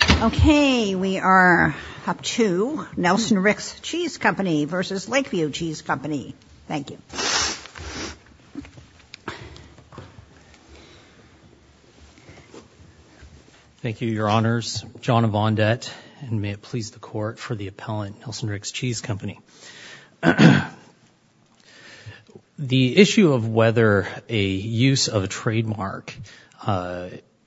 Okay, we are up to Nelson-Ricks Cheese Company v. Lakeview Cheese Company. Thank you. Thank you, Your Honors. John Avondette, and may it please the Court for the appellant, Nelson-Ricks Cheese Company. The issue of whether a use of a trademark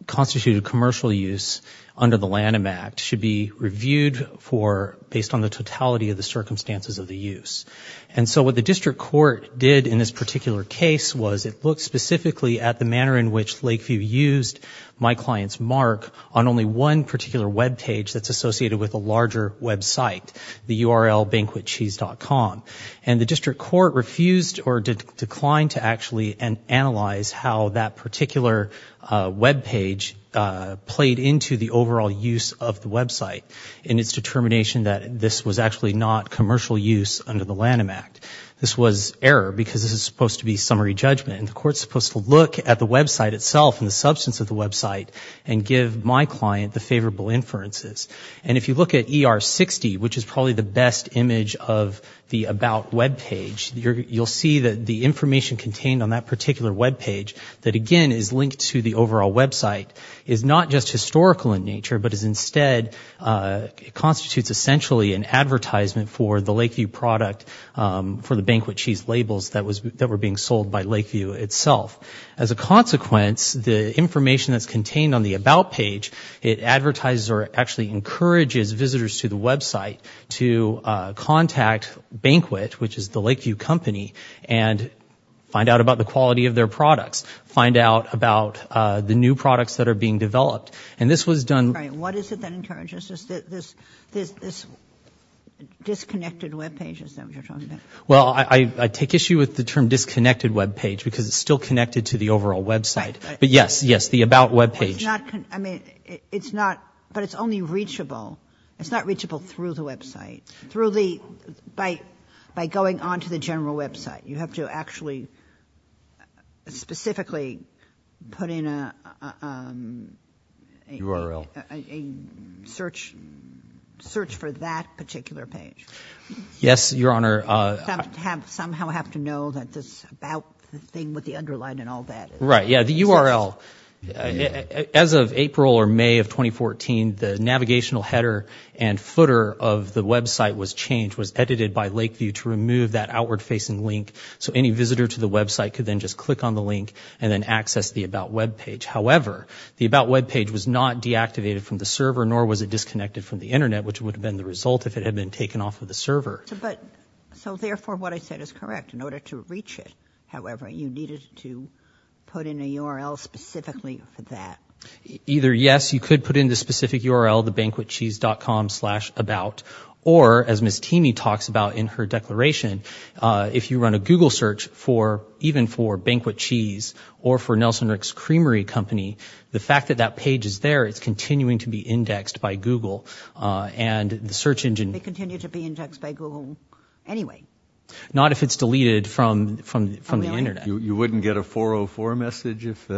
constituted commercial use under the Lanham Act should be reviewed based on the totality of the circumstances of the use. And so what the District Court did in this particular case was it looked specifically at the manner in which Lakeview used my client's mark on only one particular web page that's associated with a larger website, the URL banquetcheese.com. And the District into the overall use of the website in its determination that this was actually not commercial use under the Lanham Act. This was error because this is supposed to be summary judgment, and the Court's supposed to look at the website itself and the substance of the website and give my client the favorable inferences. And if you look at ER-60, which is probably the best image of the about web page, you'll see that the information contained on that particular web page that, again, is linked to the overall website is not just historical in nature, but is instead, constitutes essentially an advertisement for the Lakeview product for the banquet cheese labels that were being sold by Lakeview itself. As a consequence, the information that's contained on the about page, it advertises or actually encourages visitors to the website to contact Banquet, which is the Lakeview company, and find out about the quality of their products, find out about the new products that are being developed. And this was done... All right. What is it that encourages this disconnected web page? Is that what you're talking about? Well, I take issue with the term disconnected web page because it's still connected to the overall website. But yes, yes, the about web page. It's not, I mean, it's not, but it's only reachable. It's not reachable through the website. You have to actually specifically put in a, um, a search, search for that particular page. Yes, Your Honor. Somehow have to know that this about thing with the underline and all that. Right. Yeah. The URL, as of April or May of 2014, the navigational header and footer of the website was changed, was edited by Lakeview to remove that outward facing link. So any visitor to the website could then just click on the link and then access the about web page. However, the about web page was not deactivated from the server, nor was it disconnected from the internet, which would have been the result if it had been taken off of the server. So therefore what I said is correct. In order to reach it, however, you needed to put in a URL specifically for that. Either yes, you could put in the specific URL, the banquetcheese.com slash about, or as Ms. Teamee talks about in her declaration, if you run a Google search for, even for Banquet Cheese or for Nelson Rick's Creamery Company, the fact that that page is there, it's continuing to be indexed by Google and the search engine. They continue to be indexed by Google anyway. Not if it's deleted from, from, from the internet. You wouldn't get a 404 message if,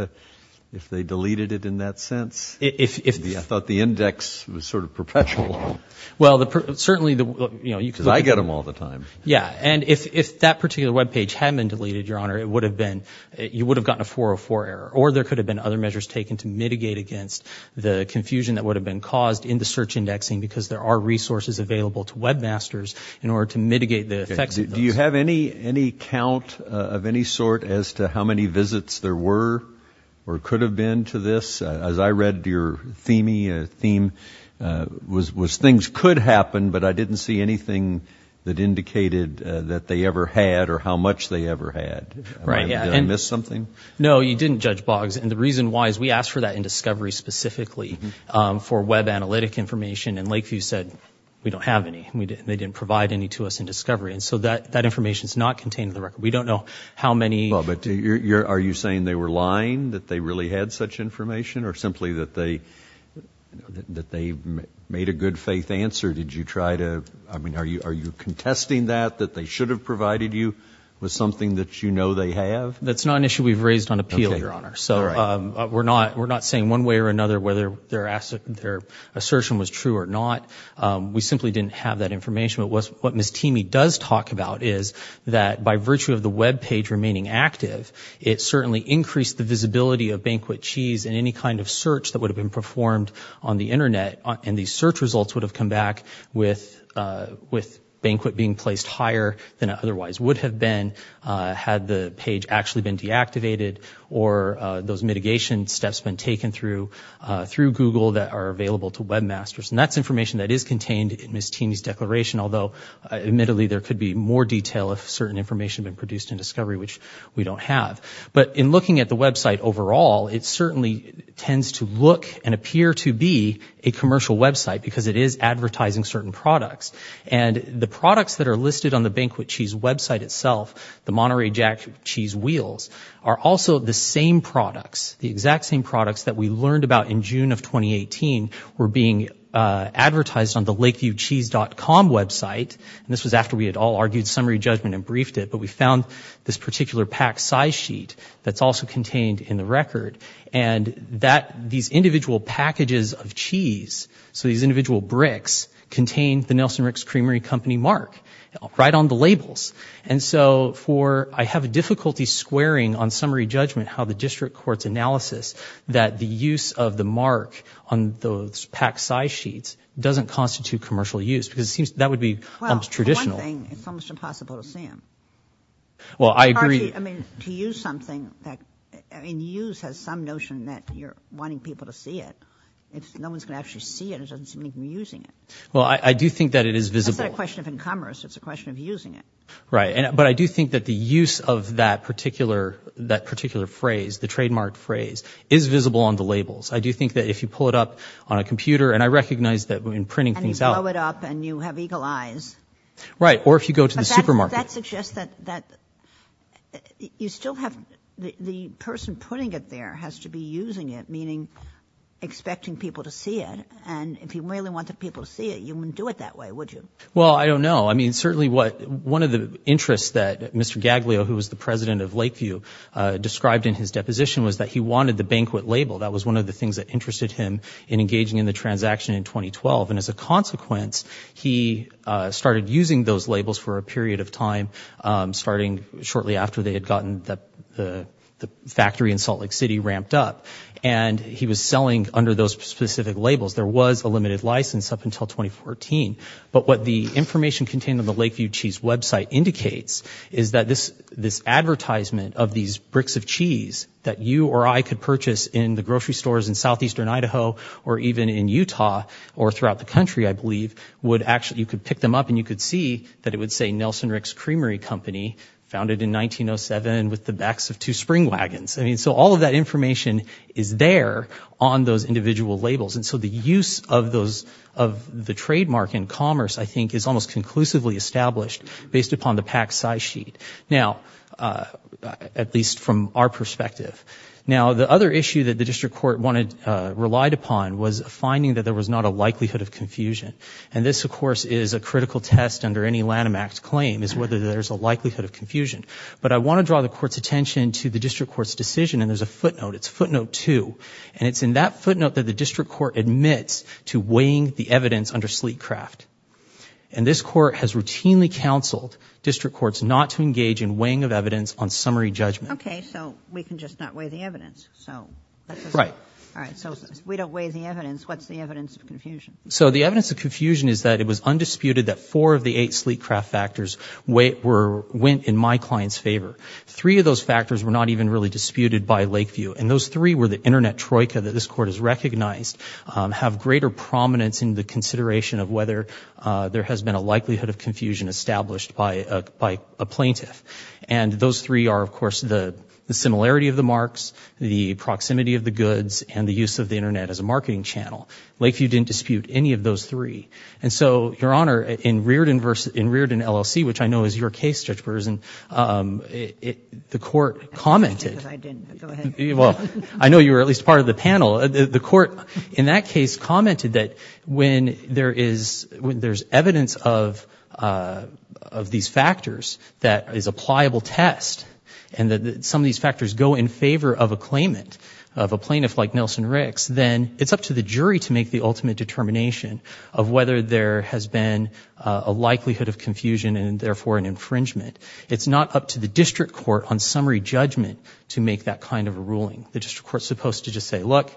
if they deleted it in that sense? If, if, if. I thought the index was sort of perpetual. Well the, certainly the, you know, you could. Because I get them all the time. Yeah, and if, if that particular web page had been deleted, your honor, it would have been, you would have gotten a 404 error. Or there could have been other measures taken to mitigate against the confusion that would have been caused in the search indexing because there are resources available to webmasters in order to mitigate the effects of those. Do you have any, any count of any sort as to how many visits there were or could have been to this? As I read your theming, theme, was, was things could happen, but I didn't see anything that indicated that they ever had or how much they ever had. Right, yeah. Did I miss something? No, you didn't, Judge Boggs. And the reason why is we asked for that in Discovery specifically for web analytic information and Lakeview said, we don't have any. We didn't, they didn't provide any to us in Discovery. And so that, that information is not contained in the record. We don't know how many. Well, but you're, you're, are you saying they were lying, that they really had such information or simply that they, that they made a good faith answer? Did you try to, I mean, are you, are you contesting that, that they should have provided you with something that you know they have? That's not an issue we've raised on appeal, your honor. So we're not, we're not saying one way or another, whether their assertion was true or not. We simply didn't have that information, but what Ms. Teamy does talk about is that by virtue of the web page remaining active, it certainly increased the visibility of Banquet Cheese in any kind of search that would have been performed on the internet and these search results would have come back with, with Banquet being placed higher than it otherwise would have been had the page actually been deactivated or those mitigation steps been taken through, through Google that are available to webmasters. And that's information that is contained in Ms. Teamy's declaration, although admittedly there could be more detail if certain information had been produced in discovery, which we don't have. But in looking at the website overall, it certainly tends to look and appear to be a commercial website because it is advertising certain products. And the products that are listed on the Banquet Cheese website itself, the Monterey Jack cheese wheels are also the same products, the exact same products that we learned about in June of 2018 were being advertised on the Lakeviewcheese.com website, and this was after we had all argued summary judgment and briefed it, but we found this particular pack size sheet that's also contained in the record. And that, these individual packages of cheese, so these individual bricks contain the Nelson Ricks Creamery Company mark right on the labels. And so for, I have a difficulty squaring on summary judgment how the district court's that the use of the mark on those pack size sheets doesn't constitute commercial use, because it seems that would be almost traditional. Well, for one thing, it's almost impossible to see them. Well, I agree. I mean, to use something that, I mean, use has some notion that you're wanting people to see it. If no one's going to actually see it, it doesn't seem like you're using it. Well, I do think that it is visible. That's not a question of in commerce, it's a question of using it. Right. But I do think that the use of that particular, that particular phrase, the trademark phrase, is visible on the labels. I do think that if you pull it up on a computer, and I recognize that when printing things out. And you blow it up and you have eagle eyes. Right. Or if you go to the supermarket. But that suggests that, that you still have, the person putting it there has to be using it, meaning expecting people to see it. And if you really wanted people to see it, you wouldn't do it that way, would you? Well, I don't know. I mean, certainly what, one of the interests that Mr. Gaglio, who was the president of the banquet label, that was one of the things that interested him in engaging in the transaction in 2012. And as a consequence, he started using those labels for a period of time, starting shortly after they had gotten the factory in Salt Lake City ramped up. And he was selling under those specific labels. There was a limited license up until 2014. But what the information contained on the Lakeview Cheese website indicates is that this advertisement of these bricks of cheese that you or I could purchase in the grocery stores in southeastern Idaho, or even in Utah, or throughout the country, I believe, would actually, you could pick them up and you could see that it would say Nelson Ricks Creamery Company, founded in 1907 with the backs of two spring wagons. I mean, so all of that information is there on those individual labels. And so the use of those, of the trademark in commerce, I think, is almost conclusively established based upon the PAC size sheet, now, at least from our perspective. Now, the other issue that the district court relied upon was finding that there was not a likelihood of confusion. And this, of course, is a critical test under any Lanham Act claim, is whether there's a likelihood of confusion. But I want to draw the court's attention to the district court's decision, and there's a footnote. It's footnote two. And it's in that footnote that the district court admits to weighing the evidence under Sleetcraft. And this court has routinely counseled district courts not to engage in weighing of evidence on summary judgment. Okay. So we can just not weigh the evidence. Right. All right. So if we don't weigh the evidence, what's the evidence of confusion? So the evidence of confusion is that it was undisputed that four of the eight Sleetcraft factors went in my client's favor. Three of those factors were not even really disputed by Lakeview. And those three were the internet troika that this court has recognized have greater prominence in the consideration of whether there has been a likelihood of confusion established by a plaintiff. And those three are, of course, the similarity of the marks, the proximity of the goods, and the use of the internet as a marketing channel. Lakeview didn't dispute any of those three. And so, Your Honor, in Reardon, LLC, which I know is your case, Judge Bergeson, the court commented— I didn't. Go ahead. Well, I know you were at least part of the panel. The court in that case commented that when there's evidence of these factors that is a pliable test and that some of these factors go in favor of a claimant, of a plaintiff like Nelson Ricks, then it's up to the jury to make the ultimate determination of whether there has been a likelihood of confusion and therefore an infringement. It's not up to the district court on summary judgment to make that kind of a ruling. The district court is supposed to just say, look,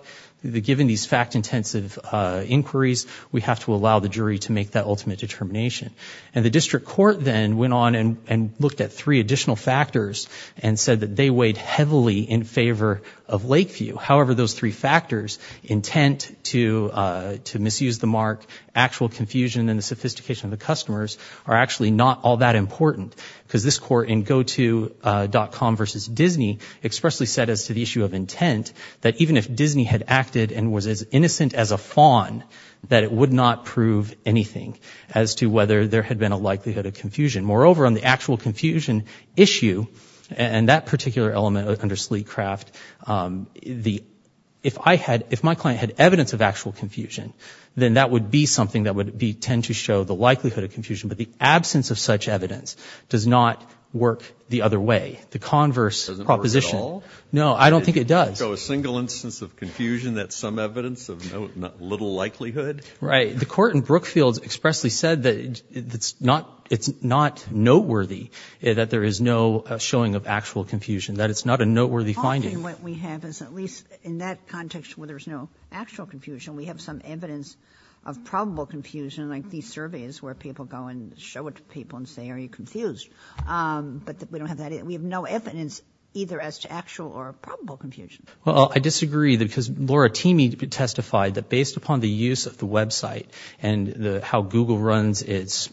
given these fact-intensive inquiries, we have to allow the jury to make that ultimate determination. And the district court then went on and looked at three additional factors and said that they weighed heavily in favor of Lakeview. However, those three factors—intent to misuse the mark, actual confusion, and the sophistication of the customers—are actually not all that important. Because this court in Goto.com v. Disney expressly said as to the issue of intent that even if Disney had acted and was as innocent as a fawn, that it would not prove anything as to whether there had been a likelihood of confusion. Moreover, on the actual confusion issue and that particular element under Sleekcraft, if my client had evidence of actual confusion, then that would be something that would tend to show the likelihood of confusion, but the absence of such evidence does not work the other way. The converse proposition— It doesn't work at all? No. I don't think it does. So a single instance of confusion, that's some evidence of little likelihood? Right. The court in Brookfield expressly said that it's not noteworthy that there is no showing of actual confusion, that it's not a noteworthy finding. The problem that we have is at least in that context where there's no actual confusion, we have some evidence of probable confusion like these surveys where people go and show it to people and say, are you confused? But we don't have that. We have no evidence either as to actual or probable confusion. Well, I disagree because Laura Teamee testified that based upon the use of the website and how Google runs its,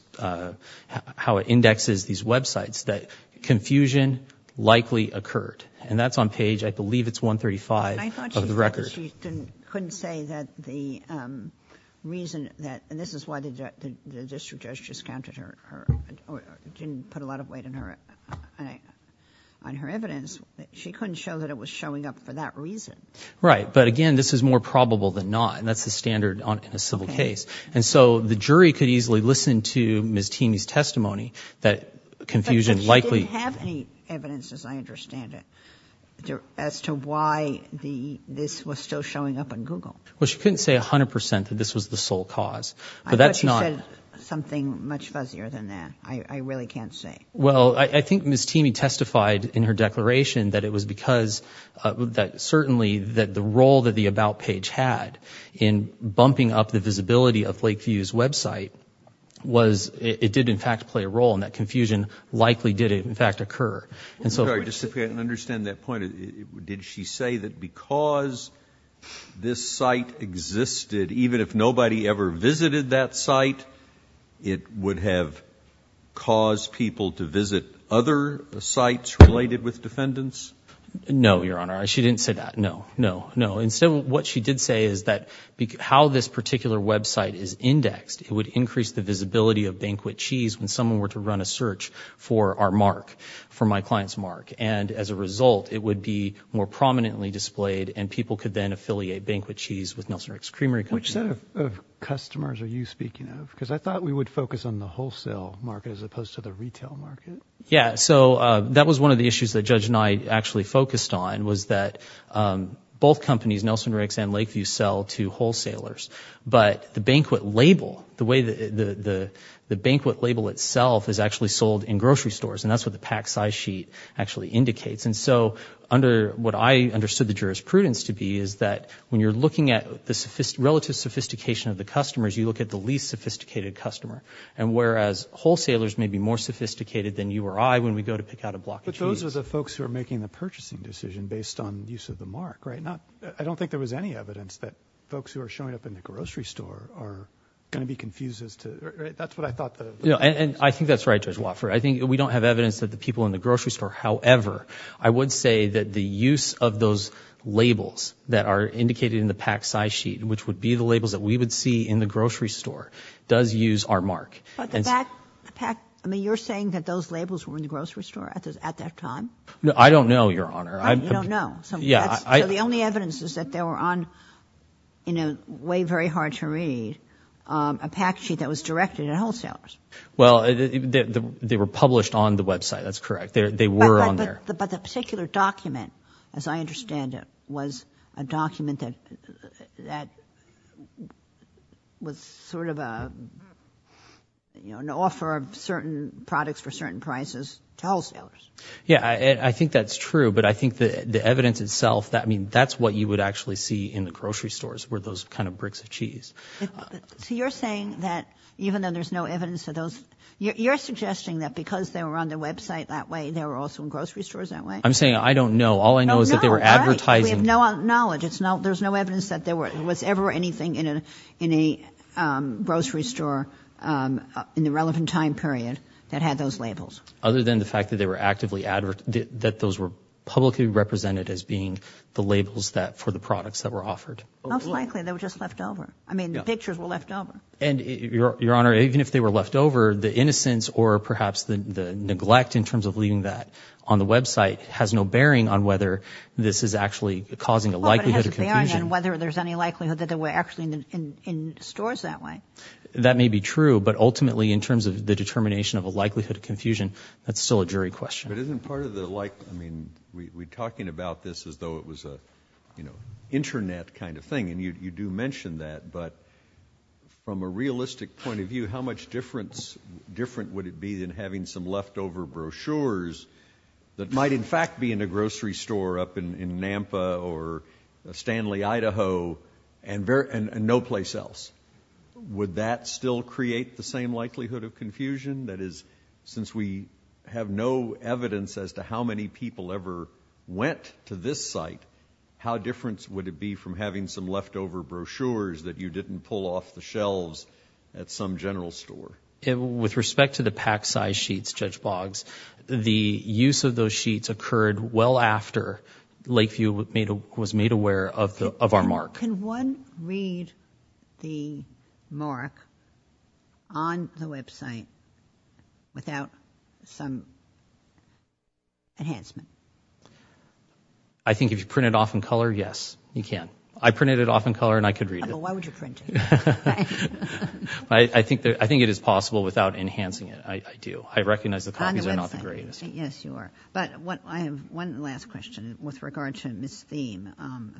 how it indexes these websites, that confusion likely occurred. And that's on page, I believe it's 135 of the record. But she couldn't say that the reason that, and this is why the district judge discounted her, didn't put a lot of weight on her evidence, she couldn't show that it was showing up for that reason. Right. But again, this is more probable than not, and that's the standard in a civil case. And so the jury could easily listen to Ms. Teamee's testimony that confusion likely didn't have any evidence, as I understand it, as to why the, this was still showing up on Google. Well, she couldn't say a hundred percent that this was the sole cause, but that's not something much fuzzier than that. I really can't say. Well, I think Ms. Teamee testified in her declaration that it was because that certainly that the role that the about page had in bumping up the visibility of Lakeview's website was, it did in fact play a role, and that confusion likely did in fact occur. And so... I'm sorry. Just to understand that point, did she say that because this site existed, even if nobody ever visited that site, it would have caused people to visit other sites related with defendants? No, Your Honor. She didn't say that. No, no, no. Instead, what she did say is that how this particular website is indexed, it would increase the visibility of Banquet Cheese when someone were to run a search for our mark, for my client's mark. And as a result, it would be more prominently displayed, and people could then affiliate Banquet Cheese with Nelson Rick's Creamery Company. Which set of customers are you speaking of? Because I thought we would focus on the wholesale market as opposed to the retail market. Yeah. So, that was one of the issues that Judge Knight actually focused on, was that both companies, Nelson Rick's and Lakeview, sell to wholesalers. But the Banquet label, the way the Banquet label itself is actually sold in grocery stores, and that's what the pack size sheet actually indicates. And so, what I understood the jurisprudence to be is that when you're looking at the relative sophistication of the customers, you look at the least sophisticated customer. And whereas, wholesalers may be more sophisticated than you or I when we go to pick out a block of cheese. But those are the folks who are making the purchasing decision based on use of the mark, right? I don't think there was any evidence that folks who are showing up in the grocery store are going to be confused as to... That's what I thought the... And I think that's right, Judge Wofford. I think we don't have evidence that the people in the grocery store... However, I would say that the use of those labels that are indicated in the pack size sheet, which would be the labels that we would see in the grocery store, does use our mark. But the back pack... I mean, you're saying that those labels were in the grocery store at that time? No, I don't know, Your Honor. You don't know? So the only evidence is that they were on, you know, way very hard to read, a pack sheet that was directed at wholesalers. Well, they were published on the website. That's correct. They were on there. But the particular document, as I understand it, was a document that was sort of an offer of certain products for certain prices to wholesalers. Yeah, I think that's true, but I think the evidence itself... I mean, that's what you would actually see in the grocery stores were those kind of bricks of cheese. So you're saying that even though there's no evidence of those... You're suggesting that because they were on the website that way, they were also in grocery stores that way? I'm saying I don't know. All I know is that they were advertising... No, right. We have no knowledge. There's no evidence that there was ever anything in a grocery store in the relevant time period that had those labels. Other than the fact that they were actively advertising... That those were publicly represented as being the labels for the products that were offered. Most likely, they were just left over. I mean, the pictures were left over. And Your Honor, even if they were left over, the innocence or perhaps the neglect in terms of leaving that on the website has no bearing on whether this is actually causing a likelihood of confusion. Well, but it has a bearing on whether there's any likelihood that they were actually in stores that way. That may be true, but ultimately, in terms of the determination of a likelihood of confusion, that's still a jury question. But isn't part of the... I mean, we're talking about this as though it was an internet kind of thing, and you do mention that, but from a realistic point of view, how much different would it be than having some leftover brochures that might in fact be in a grocery store up in Nampa or Stanley, Idaho, and no place else? Would that still create the same likelihood of confusion? That is, since we have no evidence as to how many people ever went to this site, how different would it be from having some leftover brochures that you didn't pull off the shelves at some general store? With respect to the pack size sheets, Judge Boggs, the use of those sheets occurred well after Lakeview was made aware of our mark. Can one read the mark on the website without some enhancement? I think if you print it off in color, yes, you can. I printed it off in color and I could read it. Why would you print it? I think it is possible without enhancing it, I do. I recognize the copies are not the greatest. On the website. Yes, you are. But I have one last question with regard to Ms. Thiem.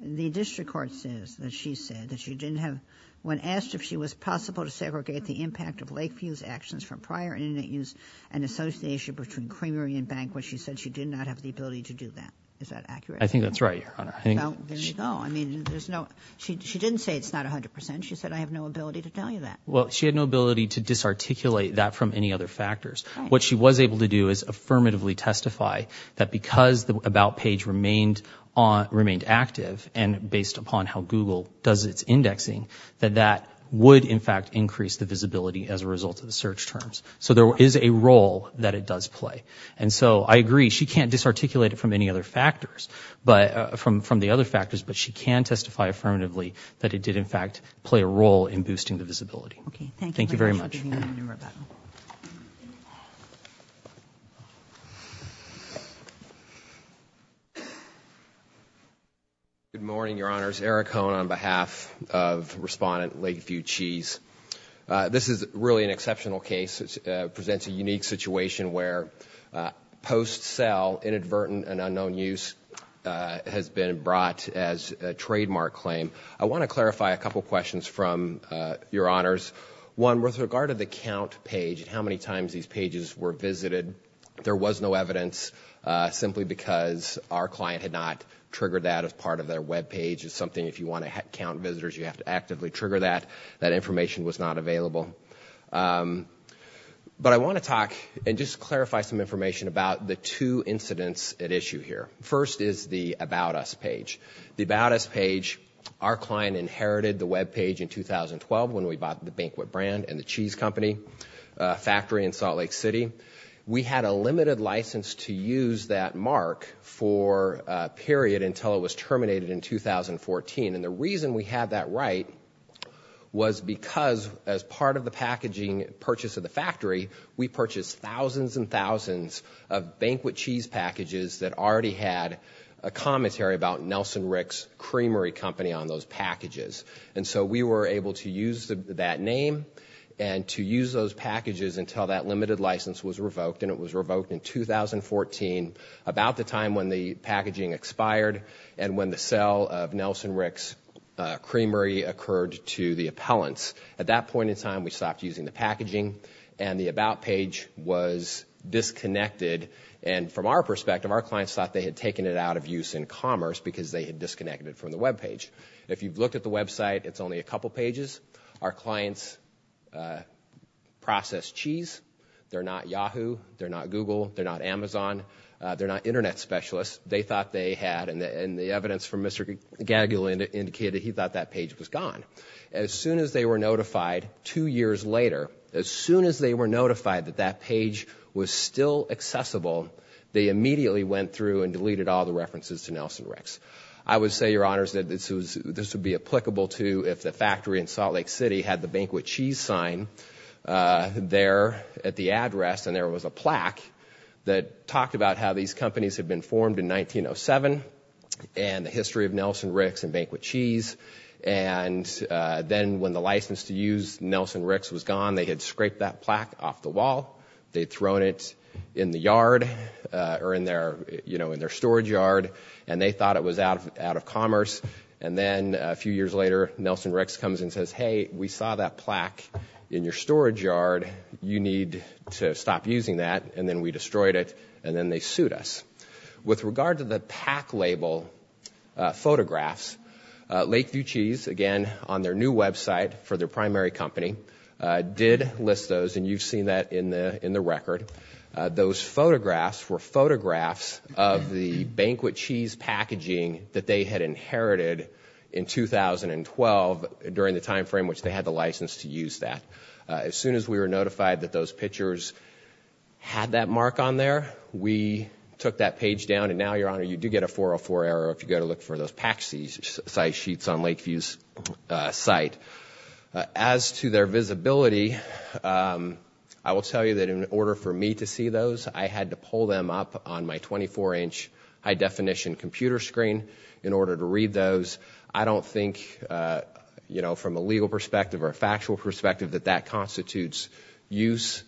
The district court says that she said that she didn't have, when asked if she was possible to segregate the impact of Lakeview's actions from prior internet use and association between Creamery and Banquet, she said she did not have the ability to do that. Is that accurate? I think that is right, Your Honor. Well, there you go. I mean, there is no, she didn't say it is not 100 percent, she said I have no ability to tell you that. Well, she had no ability to disarticulate that from any other factors. What she was able to do is affirmatively testify that because the About page remained active and based upon how Google does its indexing, that that would in fact increase the visibility as a result of the search terms. So there is a role that it does play. And so I agree, she can't disarticulate it from any other factors, but from the other factors, but she can testify affirmatively that it did in fact play a role in boosting the visibility. Okay, thank you. Thank you very much. Thank you. Thank you very much. Good morning, Your Honors. Eric Cohn on behalf of Respondent Lakeview Cheese. This is really an exceptional case. It presents a unique situation where post-sale inadvertent and unknown use has been brought as a trademark claim. I want to clarify a couple of questions from Your Honors. One, with regard to the Count page and how many times these pages were visited, there was no evidence, simply because our client had not triggered that as part of their web page. It's something if you want to count visitors, you have to actively trigger that. That information was not available. But I want to talk and just clarify some information about the two incidents at issue here. First is the About Us page. The About Us page, our client inherited the web page in 2012 when we bought the Banquet brand and the cheese company factory in Salt Lake City. We had a limited license to use that mark for a period until it was terminated in 2014. The reason we had that right was because as part of the packaging purchase of the factory, we purchased thousands and thousands of Banquet cheese packages that already had a commentary about Nelson Rick's Creamery company on those packages. And so we were able to use that name and to use those packages until that limited license was revoked. And it was revoked in 2014, about the time when the packaging expired and when the sale of Nelson Rick's Creamery occurred to the appellants. At that point in time, we stopped using the packaging and the About page was disconnected. And from our perspective, our clients thought they had taken it out of use in commerce because they had disconnected from the web page. If you've looked at the website, it's only a couple pages. Our clients process cheese. They're not Yahoo. They're not Google. They're not Amazon. They're not internet specialists. They thought they had, and the evidence from Mr. Gagula indicated he thought that page was gone. As soon as they were notified two years later, as soon as they were notified that that page was still accessible, they immediately went through and deleted all the references to Nelson Rick's. I would say, Your Honors, that this would be applicable to if the factory in Salt Lake City had the Banquet Cheese sign there at the address and there was a plaque that talked about how these companies had been formed in 1907 and the history of Nelson Rick's and Banquet Cheese. And then when the license to use Nelson Rick's was gone, they had scraped that plaque off the wall. They'd thrown it in the yard or in their storage yard, and they thought it was out of commerce. And then a few years later, Nelson Rick's comes and says, Hey, we saw that plaque in your storage yard. You need to stop using that. And then we destroyed it, and then they sued us. With regard to the PAC label photographs, Lakeview Cheese, again, on their new website for their primary company, did list those, and you've seen that in the record. Those photographs were photographs of the Banquet Cheese packaging that they had inherited in 2012 during the time frame which they had the license to use that. As soon as we were notified that those pictures had that mark on there, we took that page down. And now, Your Honor, you do get a 404 error if you go to look for those PAC size sheets on Lakeview's site. As to their visibility, I will tell you that in order for me to see those, I had to pull them up on my 24-inch high-definition computer screen in order to read those. I don't think, you know, from a legal perspective or a factual perspective, that that constitutes use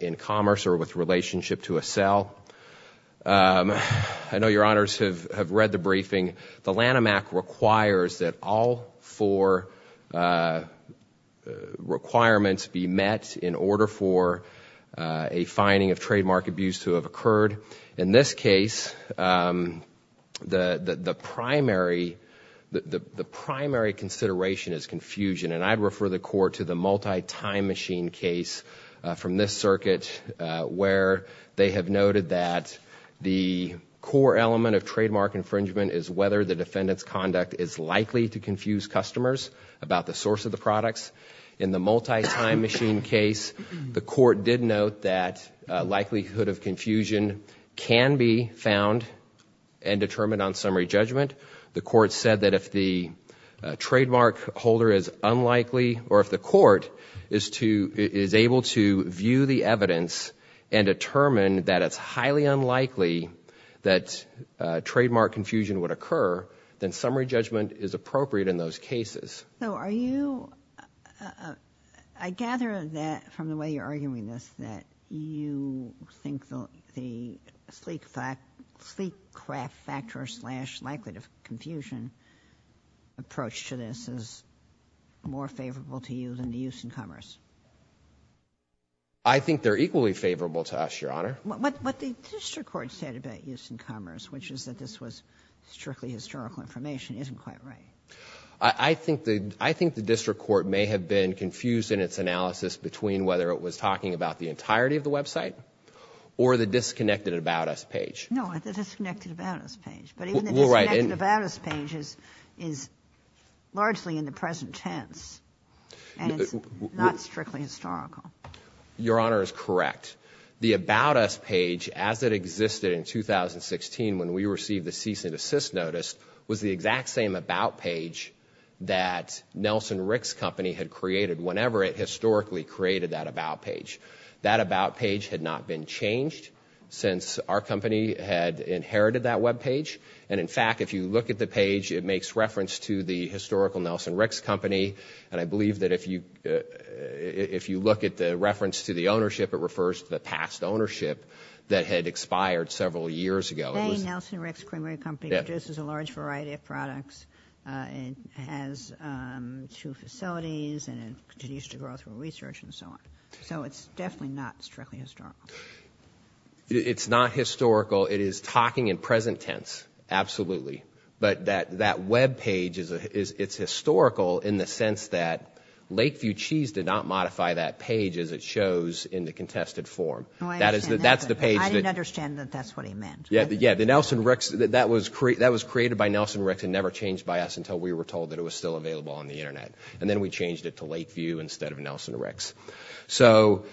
in commerce or with relationship to a sale. I know Your Honors have read the briefing. The Lanham Act requires that all four requirements be met in order for a finding of trademark abuse to have occurred. In this case, the primary consideration is confusion, and I'd refer the Court to the multi-time machine case from this circuit where they have noted that the core element of trademark infringement is whether the defendant's conduct is likely to confuse customers about the source of the products. In the multi-time machine case, the Court did note that likelihood of confusion can be found and determined on summary judgment. The Court said that if the trademark holder is unlikely, or if the Court is able to view the evidence and determine that it's highly unlikely that trademark confusion would occur, then summary judgment is appropriate in those cases. So are you, I gather that from the way you're arguing this, that you think the sleek factor slash likelihood of confusion approach to this is more favorable to you than the use in commerce. I think they're equally favorable to us, Your Honor. What the district court said about use in commerce, which is that this was strictly historical information, isn't quite right. I think the district court may have been confused in its analysis between whether it was talking about the entirety of the website or the disconnected about us page. No, the disconnected about us page. But even the disconnected about us page is largely in the present tense, and it's not strictly historical. Your Honor is correct. The about us page, as it existed in 2016 when we received the cease and desist notice, was the exact same about page that Nelson Rick's company had created whenever it historically created that about page. That about page had not been changed since our company had inherited that webpage. And in fact, if you look at the page, it makes reference to the historical Nelson Rick's If you look at the reference to the ownership, it refers to the past ownership that had expired several years ago. Today, Nelson Rick's Creamery Company produces a large variety of products, has two facilities, and it continues to grow through research and so on. So it's definitely not strictly historical. It's not historical. It is talking in present tense, absolutely. But that webpage, it's historical in the sense that Lakeview Cheese did not modify that page as it shows in the contested form. I didn't understand that that's what he meant. That was created by Nelson Rick's and never changed by us until we were told that it was still available on the Internet. And then we changed it to Lakeview instead of Nelson Rick's. So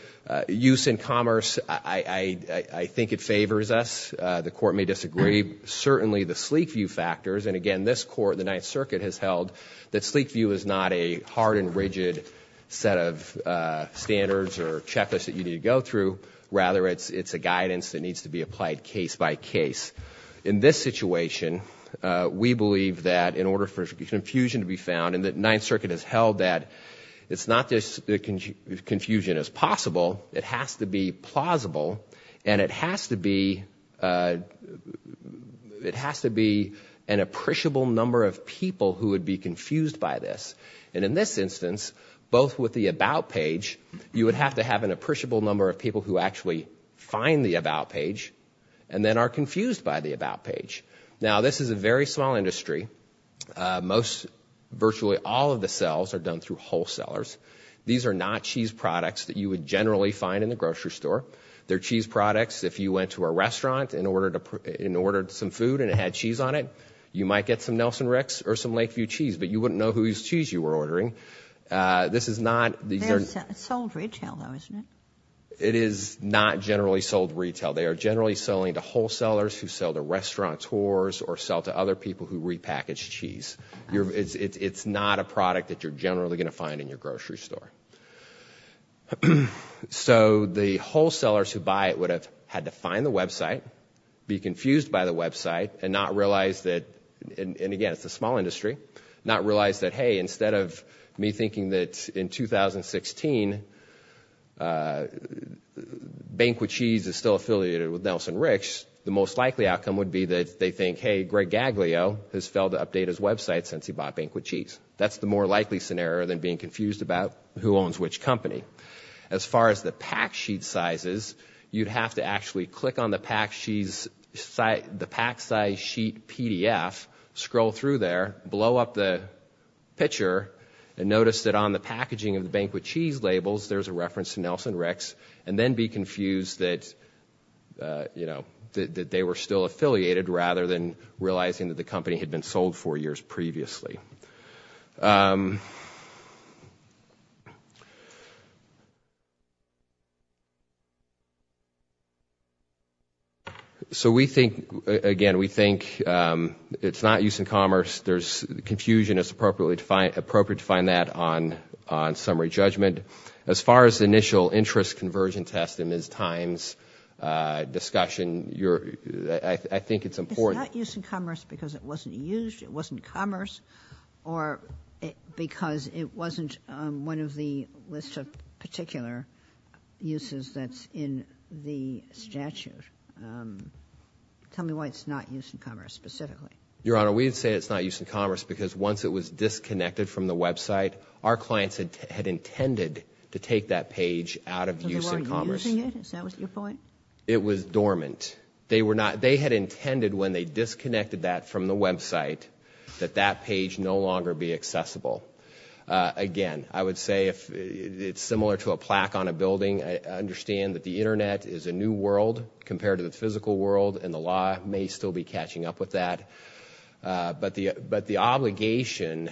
use in commerce, I think it favors us. The Court may disagree. Certainly, the sleek view factors, and again, this Court, the Ninth Circuit, has held that sleek view is not a hard and rigid set of standards or checklists that you need to go through. Rather, it's a guidance that needs to be applied case by case. In this situation, we believe that in order for confusion to be found, and the Ninth Circuit has held that it's not just confusion as possible. It has to be plausible, and it has to be an appreciable number of people who would be confused by this. And in this instance, both with the About page, you would have to have an appreciable number of people who actually find the About page and then are confused by the About page. Now, this is a very small industry. Most virtually all of the sales are done through wholesalers. These are not cheese products that you would generally find in the grocery store. They're cheese products. If you went to a restaurant and ordered some food and it had cheese on it, you might get some Nelson Rick's or some Lakeview cheese, but you wouldn't know whose cheese you were ordering. This is not— They're sold retail, though, isn't it? It is not generally sold retail. They are generally selling to wholesalers who sell to restaurateurs or sell to other people who repackage cheese. It's not a product that you're generally going to find in your grocery store. So the wholesalers who buy it would have had to find the website, be confused by the website, and not realize that—and again, it's a small industry—not realize that, hey, instead of me thinking that in 2016, Banquet Cheese is still affiliated with Nelson Rick's, the most likely outcome would be that they think, hey, Greg Gaglio has failed to update his website since he bought Banquet Cheese. That's the more likely scenario than being confused about who owns which company. As far as the pack sheet sizes, you'd have to actually click on the pack size sheet PDF, scroll through there, blow up the picture, and notice that on the packaging of the Banquet Cheese labels, there's a reference to Nelson Rick's, and then be confused that they were still affiliated rather than realizing that the company had been sold four years previously. So we think, again, we think it's not used in commerce. There's confusion. It's appropriate to find that on summary judgment. As far as the initial interest conversion test and Ms. Times' discussion, I think it's important— It's not used in commerce because it wasn't used, it wasn't commerce, or because it wasn't one of the list of particular uses that's in the statute? Tell me why it's not used in commerce, specifically. Your Honor, we didn't say it's not used in commerce because once it was disconnected from the website, our clients had intended to take that page out of use in commerce. So they weren't using it? Is that what your point? It was dormant. They had intended when they disconnected that from the website that that page no longer be accessible. Again, I would say it's similar to a plaque on a building. I understand that the internet is a new world compared to the physical world, and the law may still be catching up with that. But the obligation—and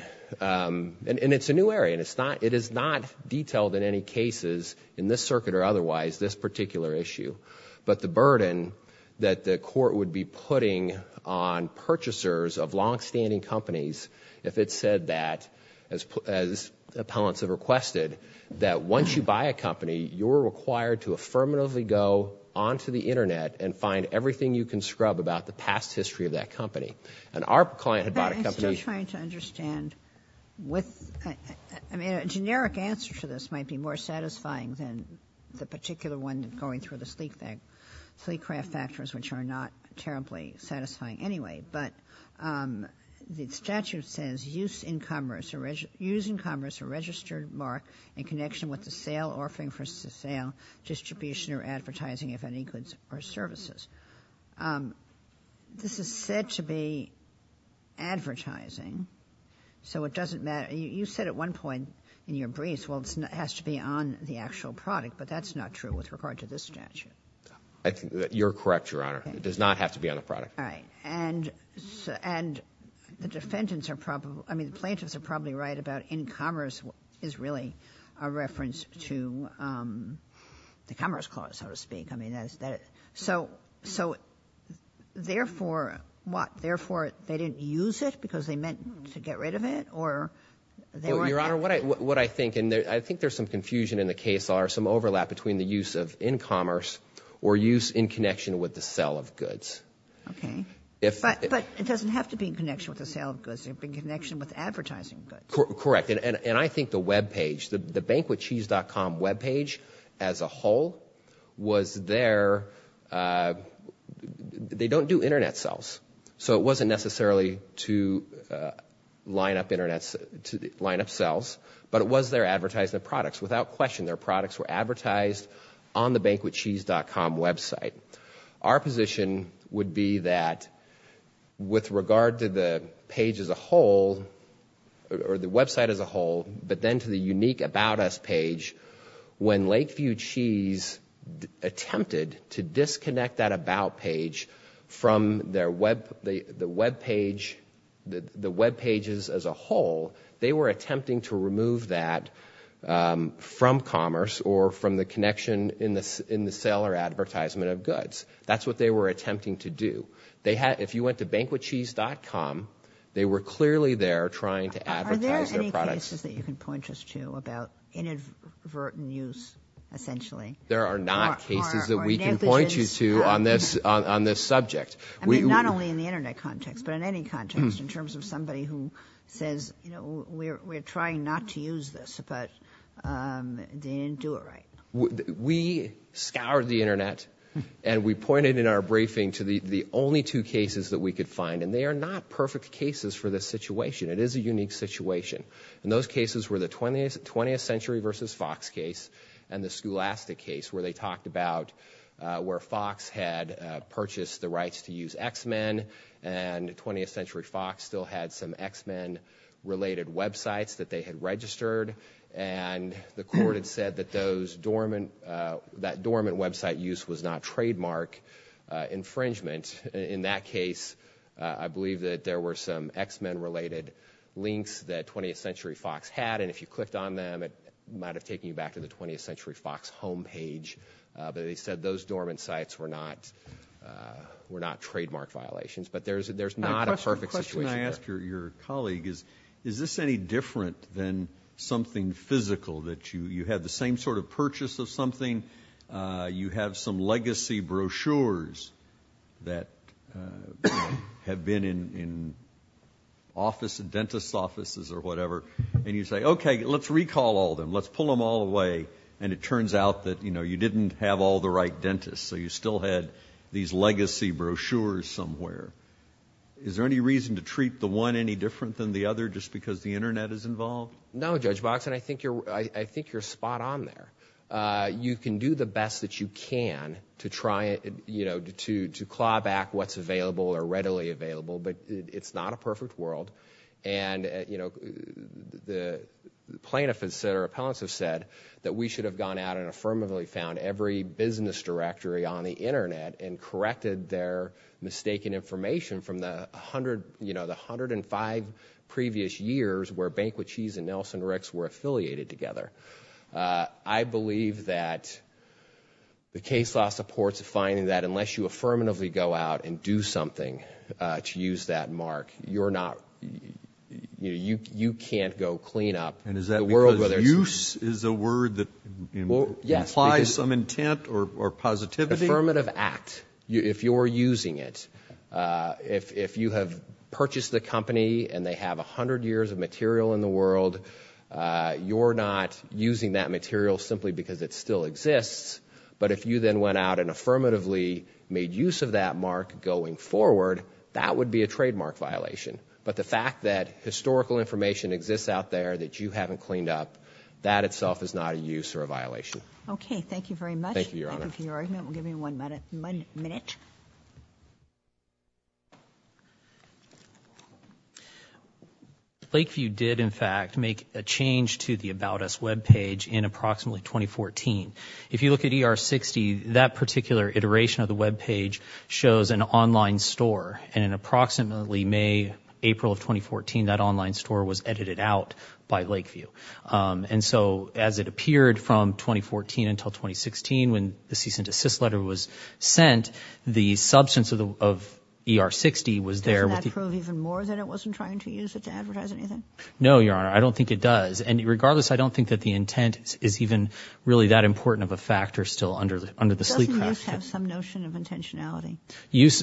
it's a new area, and it is not detailed in any cases in this circuit or otherwise, this particular issue. But the burden that the court would be putting on purchasers of longstanding companies if it said that, as appellants have requested, that once you buy a company, you're required to affirmatively go onto the internet and find everything you can scrub about the past history of that company. And our client had bought a company— But I'm still trying to understand with—I mean, a generic answer to this might be more satisfying than the particular one going through the sleek craft factors, which are not terribly satisfying anyway. But the statute says, use in commerce a registered mark in connection with the sale, offering for sale, distribution, or advertising of any goods or services. This is said to be advertising, so it doesn't matter. You said at one point in your briefs, well, it has to be on the actual product, but that's not true with regard to this statute. I think that you're correct, Your Honor. It does not have to be on the product. All right. And the defendant's are probably—I mean, the plaintiffs are probably right about in commerce is really a reference to the Commerce Clause, so to speak. So, therefore, what, therefore they didn't use it because they meant to get rid of it, or they weren't— Well, Your Honor, what I think, and I think there's some confusion in the case, or some overlap between the use of in commerce or use in connection with the sale of goods. Okay. But it doesn't have to be in connection with the sale of goods. It can be in connection with advertising goods. Correct. And I think the webpage, the BanquetCheese.com webpage as a whole was their—they don't do internet sales, so it wasn't necessarily to line up sales, but it was their advertising of products. Without question, their products were advertised on the BanquetCheese.com website. Our position would be that with regard to the page as a whole, or the website as a whole, but then to the unique about us page, when Lakeview Cheese attempted to disconnect that about page from the webpage, the webpages as a whole, they were attempting to remove that from commerce or from the connection in the sale or advertisement of goods. That's what they were attempting to do. If you went to BanquetCheese.com, they were clearly there trying to advertise their products. Are there any cases that you can point us to about inadvertent use, essentially? There are not cases that we can point you to on this subject. Not only in the internet context, but in any context, in terms of somebody who says, we're trying not to use this, but they didn't do it right. We scoured the internet, and we pointed in our briefing to the only two cases that we could find. They are not perfect cases for this situation. It is a unique situation. Those cases were the 20th Century versus Fox case and the Scholastic case, where they talked about where Fox had purchased the rights to use X-Men, and 20th Century Fox still had some X-Men-related websites that they had registered. The court had said that that dormant website use was not trademark infringement. In that case, I believe that there were some X-Men-related links that 20th Century Fox had. If you clicked on them, it might have taken you back to the 20th Century Fox homepage. They said those dormant sites were not trademark violations, but there's not a perfect situation there. I want to ask your colleague, is this any different than something physical? You have the same sort of purchase of something. You have some legacy brochures that have been in dentist offices or whatever, and you say, okay, let's recall all of them. Let's pull them all away. It turns out that you didn't have all the right dentists, so you still had these legacy brochures somewhere. Is there any reason to treat the one any different than the other, just because the Internet is involved? No, Judge Box, and I think you're spot on there. You can do the best that you can to claw back what's available or readily available, but it's not a perfect world. The plaintiffs or appellants have said that we should have gone out and affirmatively found every business directory on the Internet and corrected their mistaken information from the 105 previous years where Banquette Cheese and Nelson-Ricks were affiliated together. I believe that the case law supports finding that unless you affirmatively go out and do something to use that mark, you can't go clean up the world where there's... Is there some intent or positivity? Affirmative act, if you're using it. If you have purchased the company and they have 100 years of material in the world, you're not using that material simply because it still exists, but if you then went out and affirmatively made use of that mark going forward, that would be a trademark violation. But the fact that historical information exists out there that you haven't cleaned up, that itself is not a use or a violation. Okay, thank you very much. Thank you, Your Honor. Thank you for your argument. We'll give you one minute. Lakeview did, in fact, make a change to the About Us webpage in approximately 2014. If you look at ER-60, that particular iteration of the webpage shows an online store and in approximately May, April of 2014, that online store was edited out by Lakeview. And so, as it appeared from 2014 until 2016 when the cease and desist letter was sent, the substance of ER-60 was there with the- Doesn't that prove even more that it wasn't trying to use it to advertise anything? No, Your Honor. I don't think it does. And regardless, I don't think that the intent is even really that important of a factor still under the sleep craft. Doesn't use have some notion of intentionality?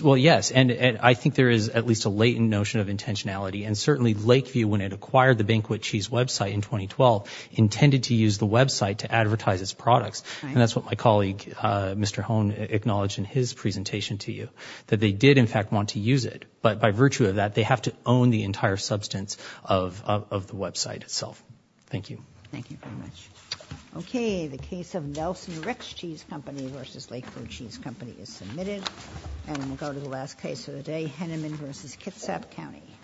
Well, yes, and I think there is at least a latent notion of intentionality, and certainly Lakeview, when it acquired the Banquet Cheese website in 2012, intended to use the website to advertise its products, and that's what my colleague, Mr. Hone, acknowledged in his presentation to you, that they did, in fact, want to use it, but by virtue of that, they have to own the entire substance of the website itself. Thank you. Thank you very much. Okay, the case of Nelson Rick's Cheese Company versus Lakeview Cheese Company is submitted, and we'll go to the last case of the day, Henneman versus Kitsap County.